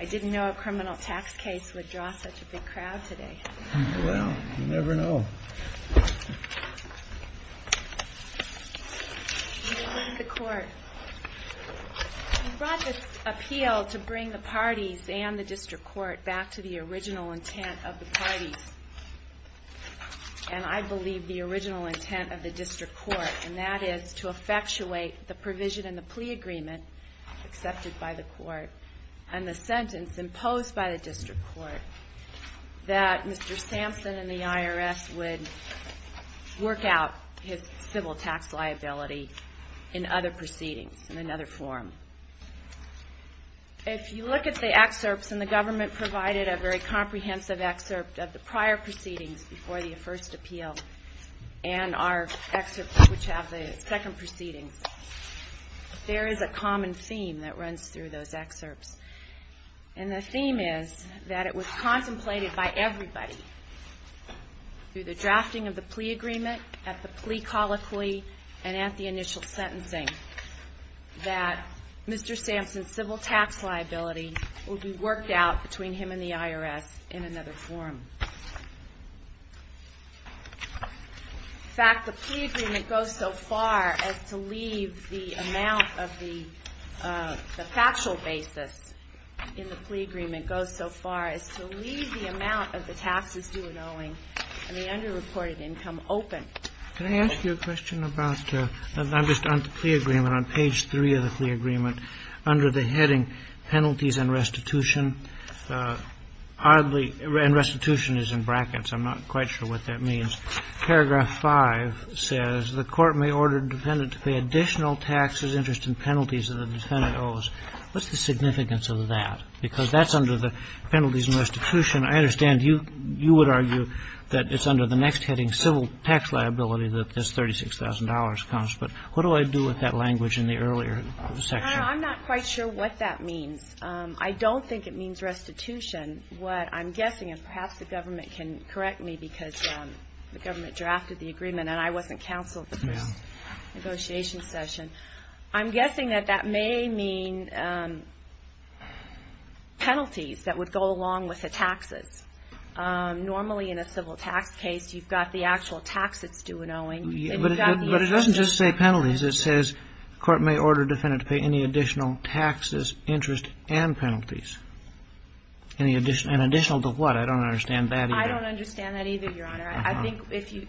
I didn't know a criminal tax case would draw such a big crowd today. Well, you never know. You brought this appeal to bring the parties and the district court back to the original intent of the parties. And I believe the original intent of the district court, and that is to effectuate the provision in the plea agreement accepted by the court and the sentence imposed by the district court that Mr. Sampson and the IRS would work out his civil tax liability in other proceedings, in another form. If you look at the excerpts, and the government provided a very comprehensive excerpt of the prior proceedings before the first appeal, and our excerpts which have the second proceedings, there is a common theme that runs through those excerpts. And the theme is that it was contemplated by everybody through the drafting of the plea agreement, at the plea colloquy, and at the initial sentencing, that Mr. Sampson's civil tax liability would be worked out between him and the IRS in another form. In fact, the plea agreement goes so far as to leave the amount of the factual basis in the plea agreement, goes so far as to leave the amount of the taxes due and owing and the underreported income open. Can I ask you a question about, I'm just on the plea agreement, on page 3 of the plea agreement, under the heading penalties and restitution, oddly, and restitution is in brackets, I'm not quite sure what that means. Paragraph 5 says the court may order the defendant to pay additional taxes, interest and penalties that the defendant owes. What's the significance of that? Because that's under the penalties and restitution. I understand you would argue that it's under the next heading, civil tax liability, that this $36,000 comes. But what do I do with that language in the earlier section? I'm not quite sure what that means. I don't think it means restitution. What I'm guessing is perhaps the government can correct me because the government drafted the agreement and I wasn't counsel at the first negotiation session. I'm guessing that that may mean penalties that would go along with the taxes. Normally in a civil tax case, you've got the actual tax that's due and owing. But it doesn't just say penalties. It says the court may order the defendant to pay any additional taxes, interest and penalties. And additional to what? I don't understand that either. I don't understand that either, Your Honor. I think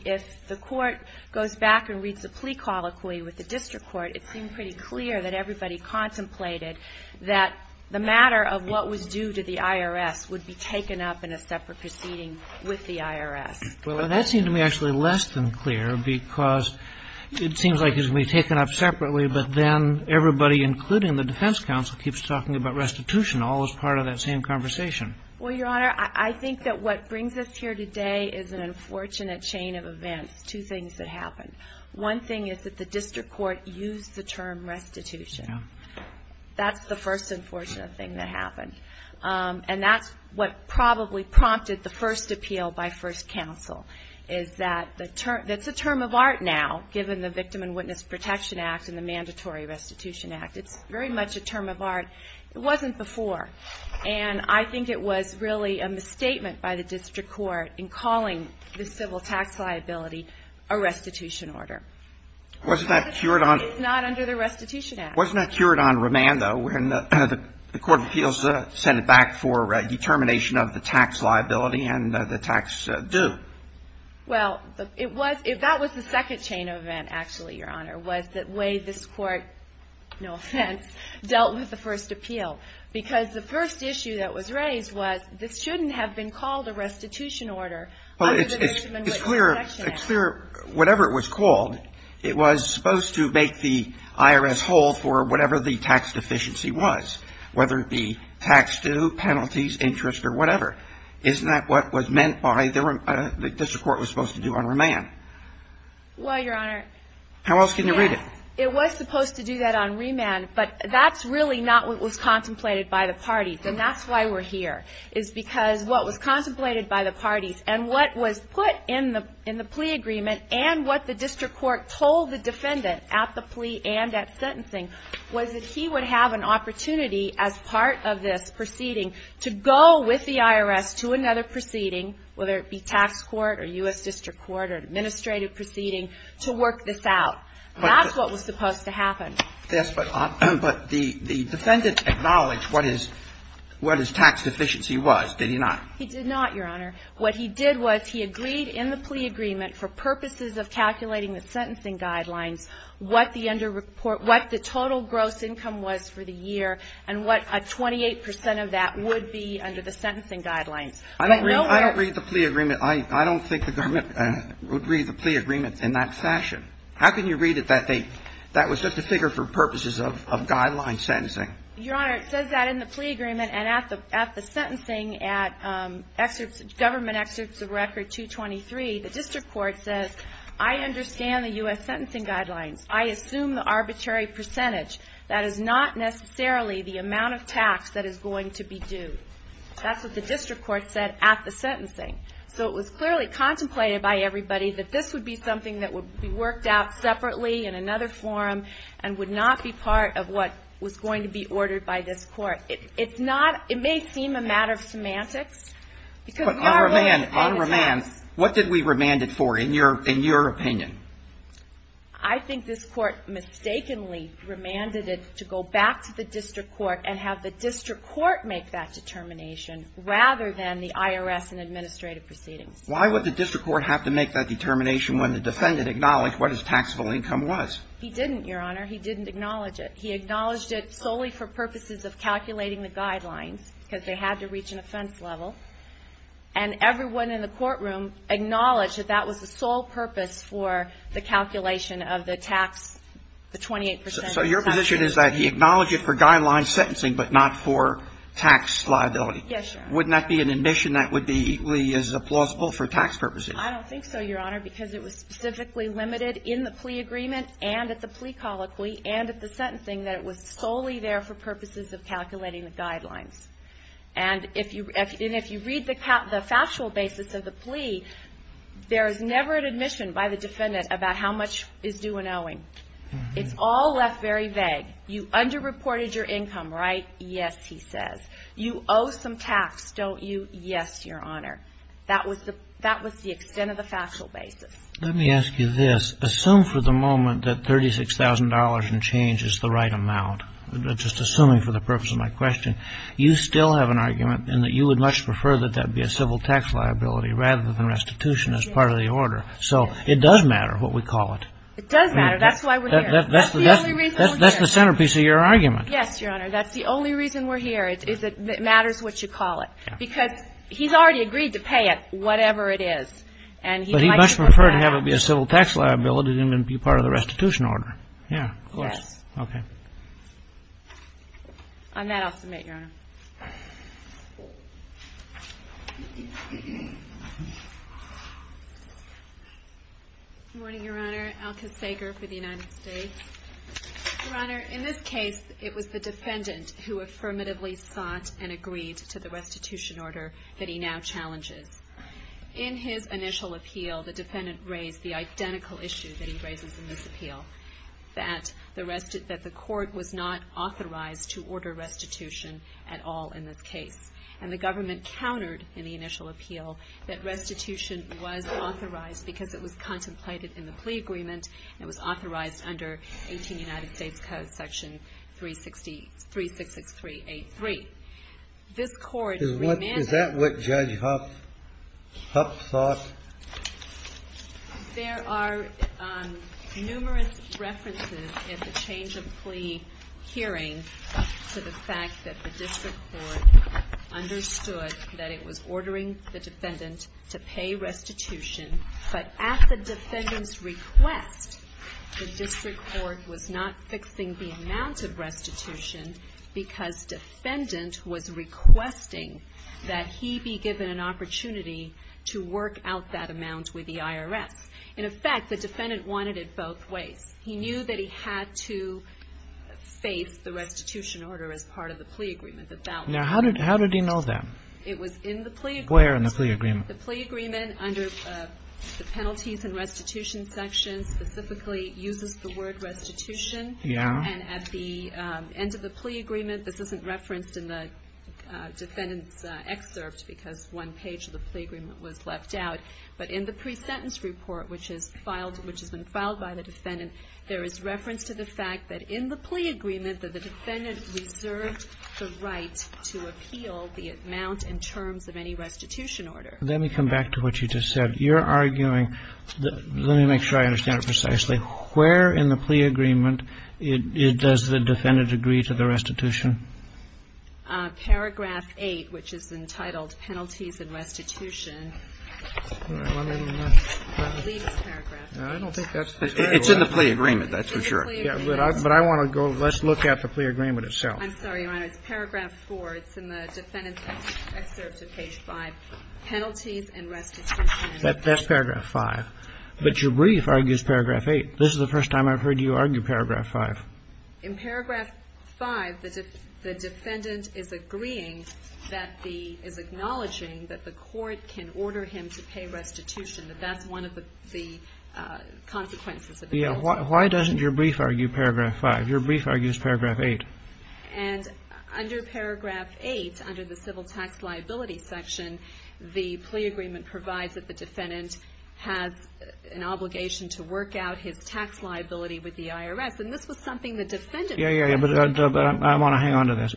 if the court goes back and reads the plea colloquy with the district court, it seemed pretty clear that everybody contemplated that the matter of what was due to the IRS would be taken up in a separate proceeding with the IRS. Well, that seemed to me actually less than clear because it seems like it's going to be taken up separately, but then everybody, including the defense counsel, keeps talking about restitution all as part of that same conversation. Well, Your Honor, I think that what brings us here today is an unfortunate chain of events, two things that happened. One thing is that the district court used the term restitution. That's the first unfortunate thing that happened. And that's what probably prompted the first appeal by first counsel is that it's a term of art now, given the Victim and Witness Protection Act and the Mandatory Restitution Act. It's very much a term of art. It wasn't before. And I think it was really a misstatement by the district court in calling the civil tax liability a restitution order. It's not under the restitution act. Wasn't that cured on remand, though, when the court of appeals sent it back for determination of the tax liability and the tax due? Well, it was. That was the second chain of event, actually, Your Honor, was the way this court, no offense, dealt with the first appeal, because the first issue that was raised was this shouldn't have been called a restitution order under the Victim and Witness Protection Act. Well, it's clear, whatever it was called, it was supposed to make the IRS whole for whatever the tax deficiency was, whether it be tax due, penalties, interest, or whatever. Isn't that what was meant by the district court was supposed to do on remand? Well, Your Honor, yes. How else can you read it? It was supposed to do that on remand, but that's really not what was contemplated by the parties, and that's why we're here is because what was contemplated by the parties and what was put in the plea agreement and what the district court told the defendant at the plea and at sentencing was that he would have an opportunity as part of this proceeding to go with the IRS to another proceeding, whether it be tax court or U.S. district court or administrative proceeding, to work this out. That's what was supposed to happen. Yes, but the defendant acknowledged what his tax deficiency was, did he not? He did not, Your Honor. What he did was he agreed in the plea agreement for purposes of calculating the sentencing guidelines what the total gross income was for the year and what a 28 percent of that would be under the sentencing guidelines. I don't read the plea agreement. I don't think the government would read the plea agreement in that fashion. How can you read it that that was just a figure for purposes of guideline sentencing? Your Honor, it says that in the plea agreement and at the sentencing at government excerpts of record 223, the district court says, I understand the U.S. sentencing guidelines. I assume the arbitrary percentage. That is not necessarily the amount of tax that is going to be due. That's what the district court said at the sentencing. So it was clearly contemplated by everybody that this would be something that would be worked out separately in another forum and would not be part of what was going to be ordered by this court. It's not, it may seem a matter of semantics. But on remand, on remand, what did we remand it for in your opinion? I think this court mistakenly remanded it to go back to the district court and have the district court make that determination rather than the IRS and administrative proceedings. Why would the district court have to make that determination when the defendant acknowledged what his taxable income was? He didn't, Your Honor. He didn't acknowledge it. He acknowledged it solely for purposes of calculating the guidelines because they had to reach an offense level. And everyone in the courtroom acknowledged that that was the sole purpose for the calculation of the tax, the 28 percent. So your position is that he acknowledged it for guideline sentencing but not for tax liability. Yes, Your Honor. Wouldn't that be an admission that would be equally as plausible for tax purposes? I don't think so, Your Honor, because it was specifically limited in the plea agreement and at the plea colloquy and at the sentencing that it was solely there for purposes of calculating the guidelines. And if you read the factual basis of the plea, there is never an admission by the defendant about how much is due in owing. It's all left very vague. You underreported your income, right? Yes, he says. You owe some tax, don't you? Yes, Your Honor. That was the extent of the factual basis. Let me ask you this. Assume for the moment that $36,000 in change is the right amount, just assuming for the purpose of my question. You still have an argument in that you would much prefer that that be a civil tax liability rather than restitution as part of the order. So it does matter what we call it. It does matter. That's why we're here. That's the only reason we're here. That's the centerpiece of your argument. Yes, Your Honor. That's the only reason we're here, is that it matters what you call it. Because he's already agreed to pay it, whatever it is. But he'd much prefer to have it be a civil tax liability than be part of the restitution order. Yes. Okay. On that, I'll submit, Your Honor. Good morning, Your Honor. Alka Sager for the United States. Your Honor, in this case, it was the defendant who affirmatively sought and agreed to the restitution order that he now challenges. In his initial appeal, the defendant raised the identical issue that he raises in this appeal, that the court was not authorized to order restitution at all in this case. And the government countered in the initial appeal that restitution was authorized because it was contemplated in the plea agreement and it was authorized under 18 United States Code, Section 366383. This court remanded... Is that what Judge Huff thought? There are numerous references in the change of plea hearing to the fact that the district court understood that it was ordering the defendant to pay restitution. But at the defendant's request, the district court was not fixing the amount of restitution because defendant was requesting that he be given an opportunity to work out that amount with the IRS. In effect, the defendant wanted it both ways. He knew that he had to face the restitution order as part of the plea agreement. Now, how did he know that? It was in the plea agreement. Where in the plea agreement? The plea agreement under the penalties and restitution section specifically uses the word restitution. Yeah. And at the end of the plea agreement, this isn't referenced in the defendant's excerpt because one page of the plea agreement was left out. But in the pre-sentence report, which has been filed by the defendant, there is reference to the fact that in the plea agreement that the defendant reserved the right to appeal the amount in terms of any restitution order. Let me come back to what you just said. You're arguing, let me make sure I understand it precisely. Where in the plea agreement does the defendant agree to the restitution? Paragraph 8, which is entitled penalties and restitution. It's in the plea agreement, that's for sure. But I want to go, let's look at the plea agreement itself. I'm sorry, Your Honor. It's paragraph 4. It's in the defendant's excerpt of page 5. Penalties and restitution. That's paragraph 5. But your brief argues paragraph 8. This is the first time I've heard you argue paragraph 5. In paragraph 5, the defendant is agreeing that the, is acknowledging that the court can order him to pay restitution, that that's one of the consequences of the penalty. Yeah, why doesn't your brief argue paragraph 5? Your brief argues paragraph 8. And under paragraph 8, under the civil tax liability section, the plea agreement provides that the defendant has an obligation to work out his tax liability with the IRS. And this was something the defendant said. Yeah, yeah, yeah. But I want to hang on to this.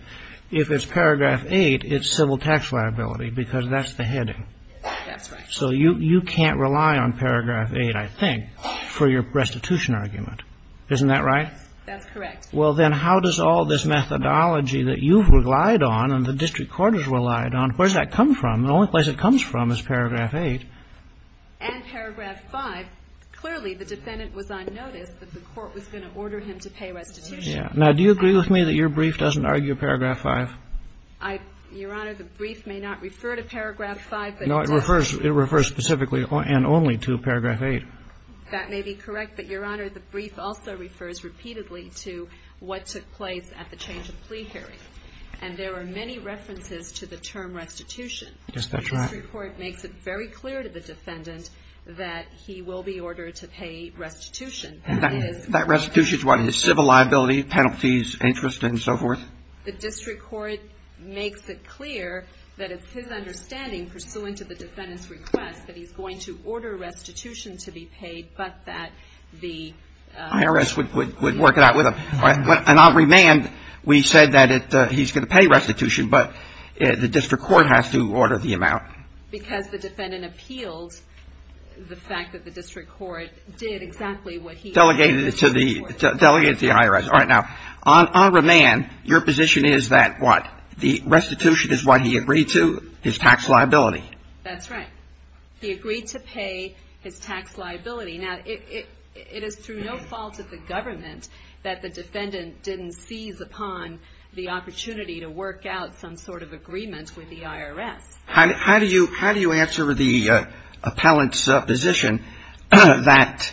If it's paragraph 8, it's civil tax liability because that's the heading. That's right. So you can't rely on paragraph 8, I think, for your restitution argument. Isn't that right? That's correct. Well, then how does all this methodology that you've relied on and the district court has relied on, where does that come from? The only place it comes from is paragraph 8. And paragraph 5, clearly the defendant was on notice that the court was going to order him to pay restitution. Now, do you agree with me that your brief doesn't argue paragraph 5? Your Honor, the brief may not refer to paragraph 5, but it does. No, it refers specifically and only to paragraph 8. That may be correct. But, Your Honor, the brief also refers repeatedly to what took place at the change of plea hearing. And there are many references to the term restitution. Yes, that's right. The district court makes it very clear to the defendant that he will be ordered to pay restitution. That restitution is what? His civil liability, penalties, interest, and so forth? The district court makes it clear that it's his understanding, pursuant to the defendant's request, that he's going to order restitution to be paid, but that the IRS would work it out with him. And on remand, we said that he's going to pay restitution, but the district court has to order the amount. Because the defendant appealed the fact that the district court did exactly what he asked. Delegated it to the IRS. All right, now, on remand, your position is that what? The restitution is what he agreed to, his tax liability. That's right. He agreed to pay his tax liability. Now, it is through no fault of the government that the defendant didn't seize upon the opportunity to work out some sort of agreement with the IRS. How do you answer the appellant's position that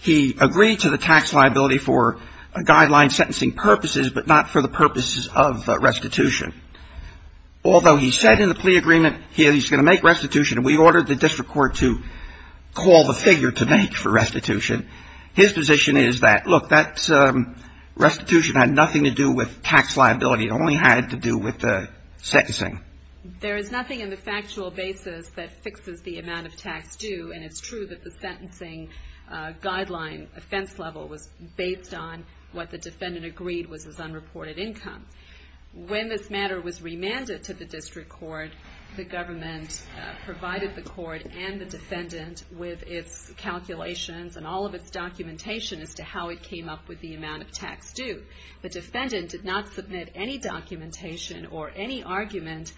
he agreed to the tax liability for guideline sentencing purposes, but not for the purposes of restitution? Although he said in the plea agreement he's going to make restitution, and we ordered the district court to call the figure to make for restitution, his position is that, look, that restitution had nothing to do with tax liability. It only had to do with the sentencing. There is nothing in the factual basis that fixes the amount of tax due, and it's true that the sentencing guideline offense level was based on what the defendant agreed was his unreported income. When this matter was remanded to the district court, the government provided the court and the defendant with its calculations and all of its documentation as to how it came up with the amount of tax due. The defendant did not submit any documentation or any argument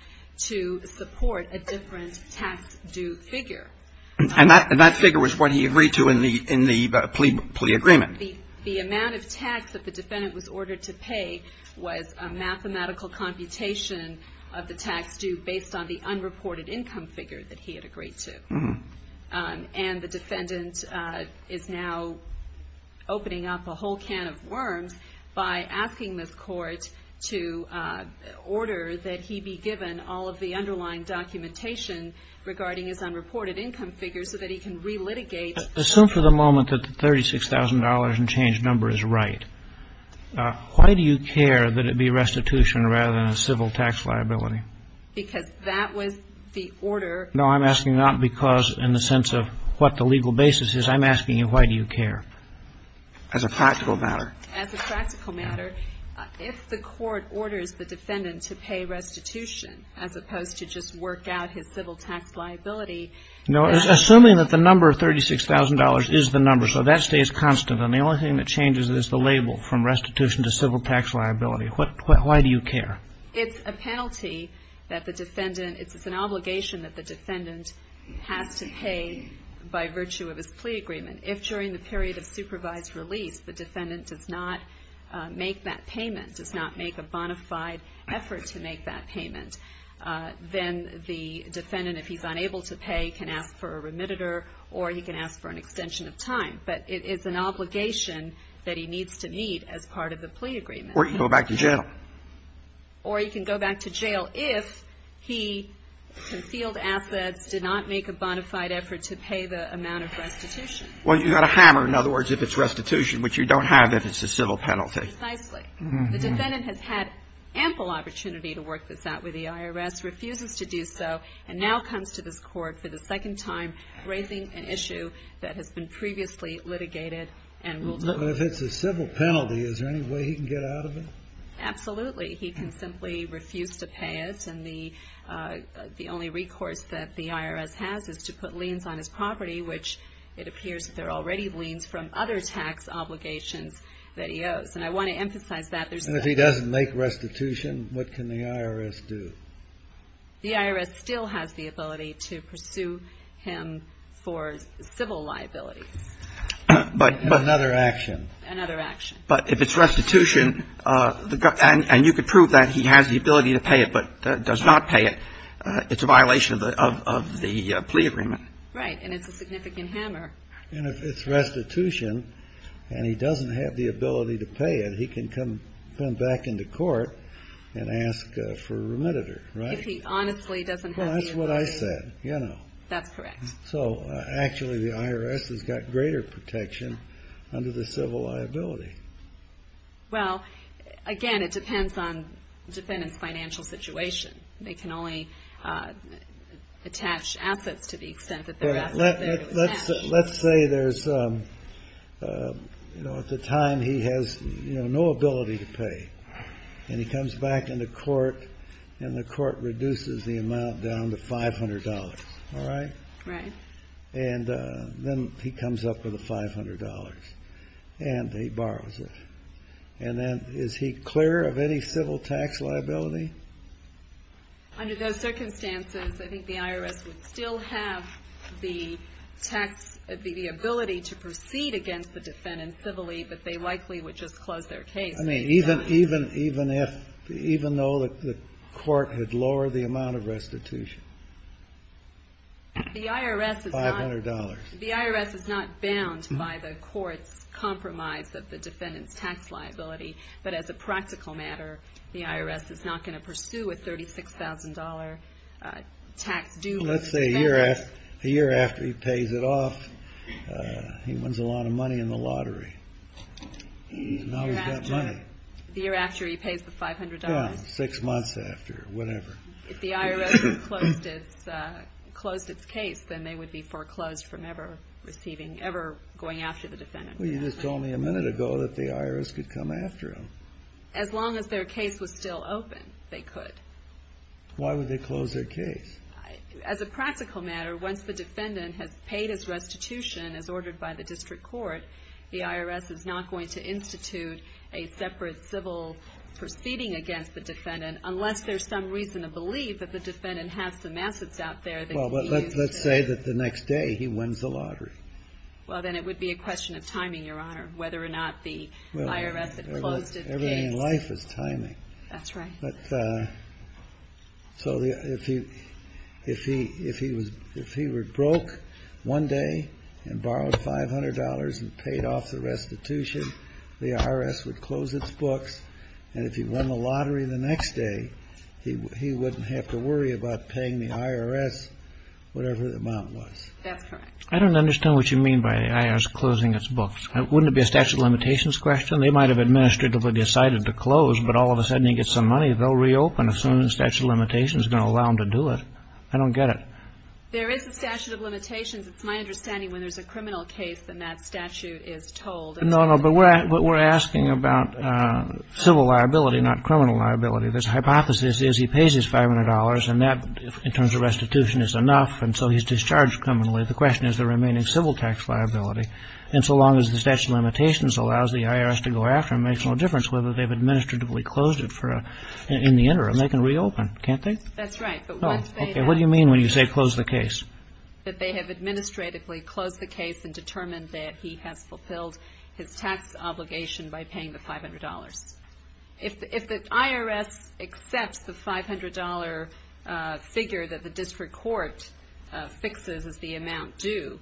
to support a different tax due figure. And that figure was what he agreed to in the plea agreement. The amount of tax that the defendant was ordered to pay was a mathematical computation of the tax due based on the unreported income figure that he had agreed to. And the defendant is now opening up a whole can of worms by asking this court to order that he be given all of the underlying documentation regarding his unreported income figure so that he can relitigate. Assume for the moment that the $36,000 and change number is right. Why do you care that it be restitution rather than a civil tax liability? Because that was the order. No, I'm asking not because in the sense of what the legal basis is. I'm asking you, why do you care? As a practical matter. As a practical matter. If the court orders the defendant to pay restitution as opposed to just work out his civil tax liability. Assuming that the number of $36,000 is the number, so that stays constant. And the only thing that changes is the label from restitution to civil tax liability. Why do you care? It's a penalty that the defendant, it's an obligation that the defendant has to pay by virtue of his plea agreement. If during the period of supervised release the defendant does not make that payment, does not make a bona fide effort to make that payment, then the defendant, if he's unable to pay, can ask for a remittitor or he can ask for an extension of time. But it is an obligation that he needs to meet as part of the plea agreement. Or he can go back to jail. Or he can go back to jail if he concealed assets, did not make a bona fide effort to pay the amount of restitution. Well, you've got a hammer, in other words, if it's restitution, which you don't have if it's a civil penalty. Precisely. The defendant has had ample opportunity to work this out with the IRS, refuses to do so, and now comes to this court for the second time raising an issue that has been previously litigated and will do. If it's a civil penalty, is there any way he can get out of it? Absolutely. He can simply refuse to pay it. And the only recourse that the IRS has is to put liens on his property, which it appears that there are already liens from other tax obligations that he owes. And I want to emphasize that. And if he doesn't make restitution, what can the IRS do? The IRS still has the ability to pursue him for civil liabilities. Another action. Another action. But if it's restitution, and you could prove that he has the ability to pay it but does not pay it, it's a violation of the plea agreement. Right. And it's a significant hammer. And if it's restitution and he doesn't have the ability to pay it, he can come back into court and ask for a remediator, right? If he honestly doesn't have the ability. Well, that's what I said. That's correct. So actually the IRS has got greater protection under the civil liability. Well, again, it depends on the defendant's financial situation. They can only attach assets to the extent that their assets are there to attach. Let's say there's, you know, at the time he has, you know, no ability to pay. And he comes back into court and the court reduces the amount down to $500. All right? Right. And then he comes up with the $500. And he borrows it. And then is he clear of any civil tax liability? Under those circumstances, I think the IRS would still have the tax, the ability to proceed against the defendant civilly, but they likely would just close their case. I mean, even though the court had lowered the amount of restitution? The IRS is not. $500. But as a practical matter, the IRS is not going to pursue a $36,000 tax due. Let's say a year after he pays it off, he wins a lot of money in the lottery. Now he's got money. The year after he pays the $500. Six months after, whatever. If the IRS closed its case, then they would be foreclosed from ever receiving, ever going after the defendant. Well, you just told me a minute ago that the IRS could come after him. As long as their case was still open, they could. Why would they close their case? As a practical matter, once the defendant has paid his restitution as ordered by the district court, the IRS is not going to institute a separate civil proceeding against the defendant, unless there's some reason to believe that the defendant has some assets out there that he used. Well, but let's say that the next day he wins the lottery. Well, then it would be a question of timing, Your Honor, whether or not the IRS had closed its case. Everything in life is timing. That's right. But so if he were broke one day and borrowed $500 and paid off the restitution, the IRS would close its books, and if he won the lottery the next day, he wouldn't have to worry about paying the IRS whatever the amount was. That's correct. I don't understand what you mean by the IRS closing its books. Wouldn't it be a statute of limitations question? They might have administratively decided to close, but all of a sudden he gets some money, they'll reopen as soon as the statute of limitations is going to allow them to do it. I don't get it. There is a statute of limitations. It's my understanding when there's a criminal case, then that statute is told. No, no, but we're asking about civil liability, not criminal liability. The hypothesis is he pays his $500, and that, in terms of restitution, is enough, and so he's discharged criminally. The question is the remaining civil tax liability. And so long as the statute of limitations allows the IRS to go after him, it makes no difference whether they've administratively closed it in the interim. They can reopen, can't they? That's right. What do you mean when you say close the case? That they have administratively closed the case and determined that he has fulfilled his tax obligation by paying the $500. If the IRS accepts the $500 figure that the district court fixes as the amount due,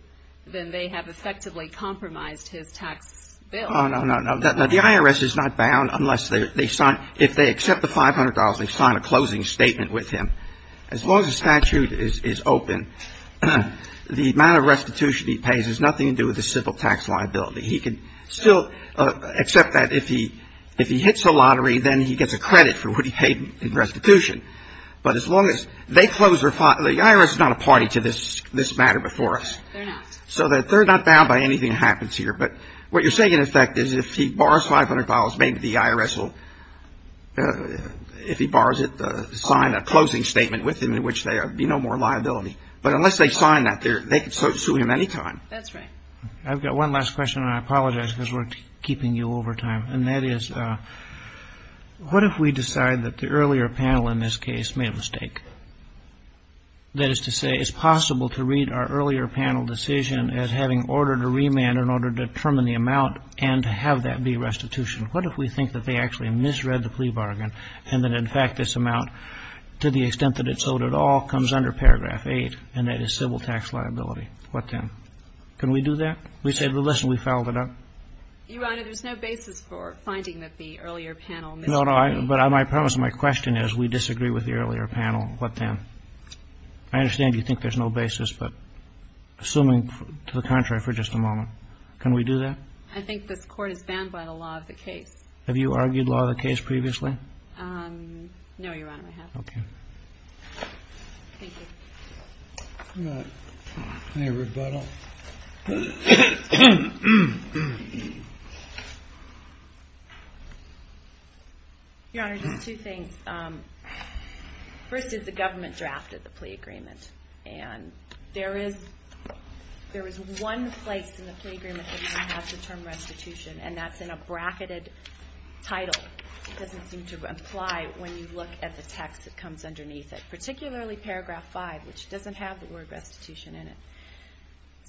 then they have effectively compromised his tax bill. Oh, no, no, no. The IRS is not bound unless they sign. If they accept the $500, they sign a closing statement with him. As long as the statute is open, the amount of restitution he pays has nothing to do with the civil tax liability. He can still accept that if he hits a lottery, then he gets a credit for what he paid in restitution. But as long as they close their the IRS is not a party to this matter before us. They're not. So they're not bound by anything that happens here. But what you're saying, in effect, is if he borrows $500, maybe the IRS will, if he borrows it, sign a closing statement with him in which there would be no more liability. But unless they sign that, they can sue him any time. That's right. I've got one last question. And I apologize because we're keeping you over time. And that is, what if we decide that the earlier panel in this case made a mistake? That is to say, it's possible to read our earlier panel decision as having ordered a remand in order to determine the amount and to have that be restitution. What if we think that they actually misread the plea bargain and that, in fact, this amount, to the extent that it's owed at all, comes under Paragraph 8 and that is civil tax liability? What then? Can we do that? We say, well, listen, we fouled it up. Your Honor, there's no basis for finding that the earlier panel misread. No, no. But my premise, my question is, we disagree with the earlier panel. What then? I understand you think there's no basis. But assuming, to the contrary, for just a moment, can we do that? I think this Court is bound by the law of the case. Have you argued law of the case previously? No, Your Honor, I haven't. Okay. Thank you. Any rebuttal? Your Honor, just two things. First is the government drafted the plea agreement. And there is one place in the plea agreement that has the term restitution, and that's in a bracketed title. It doesn't seem to apply when you look at the text that comes underneath it, particularly Paragraph 5, which doesn't have the word restitution in it.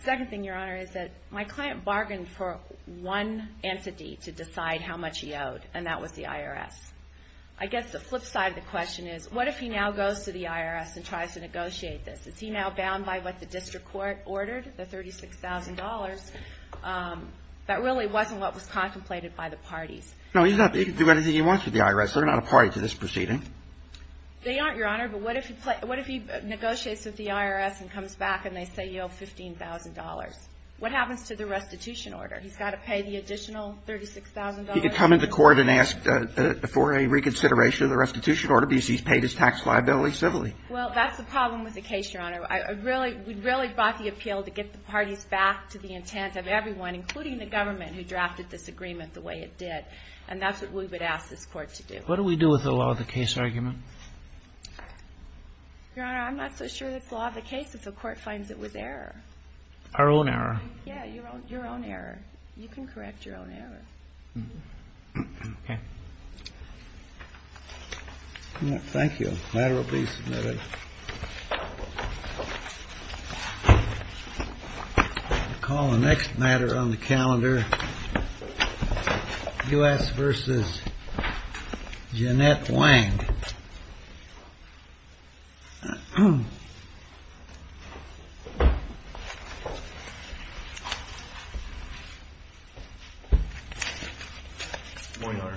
Second thing, Your Honor, is that my client bargained for one entity to decide how much he owed, and that was the IRS. I guess the flip side of the question is, what if he now goes to the IRS and tries to negotiate this? Is he now bound by what the district court ordered, the $36,000, that really wasn't what was contemplated by the parties? No, he can do anything he wants with the IRS. They're not a party to this proceeding. They aren't, Your Honor, but what if he negotiates with the IRS and comes back and they say you owe $15,000? What happens to the restitution order? He's got to pay the additional $36,000? He could come into court and ask for a reconsideration of the restitution order because he's paid his tax liability civilly. Well, that's the problem with the case, Your Honor. We really brought the appeal to get the parties back to the intent of everyone, including the government, who drafted this agreement the way it did. And that's what we would ask this Court to do. What do we do with the law of the case argument? Your Honor, I'm not so sure it's law of the case if the Court finds it was error. Our own error? Yeah, your own error. You can correct your own error. Okay. Thank you. The matter will be submitted. We'll call the next matter on the calendar, U.S. v. Jeannette Wang. Morning, Your Honor.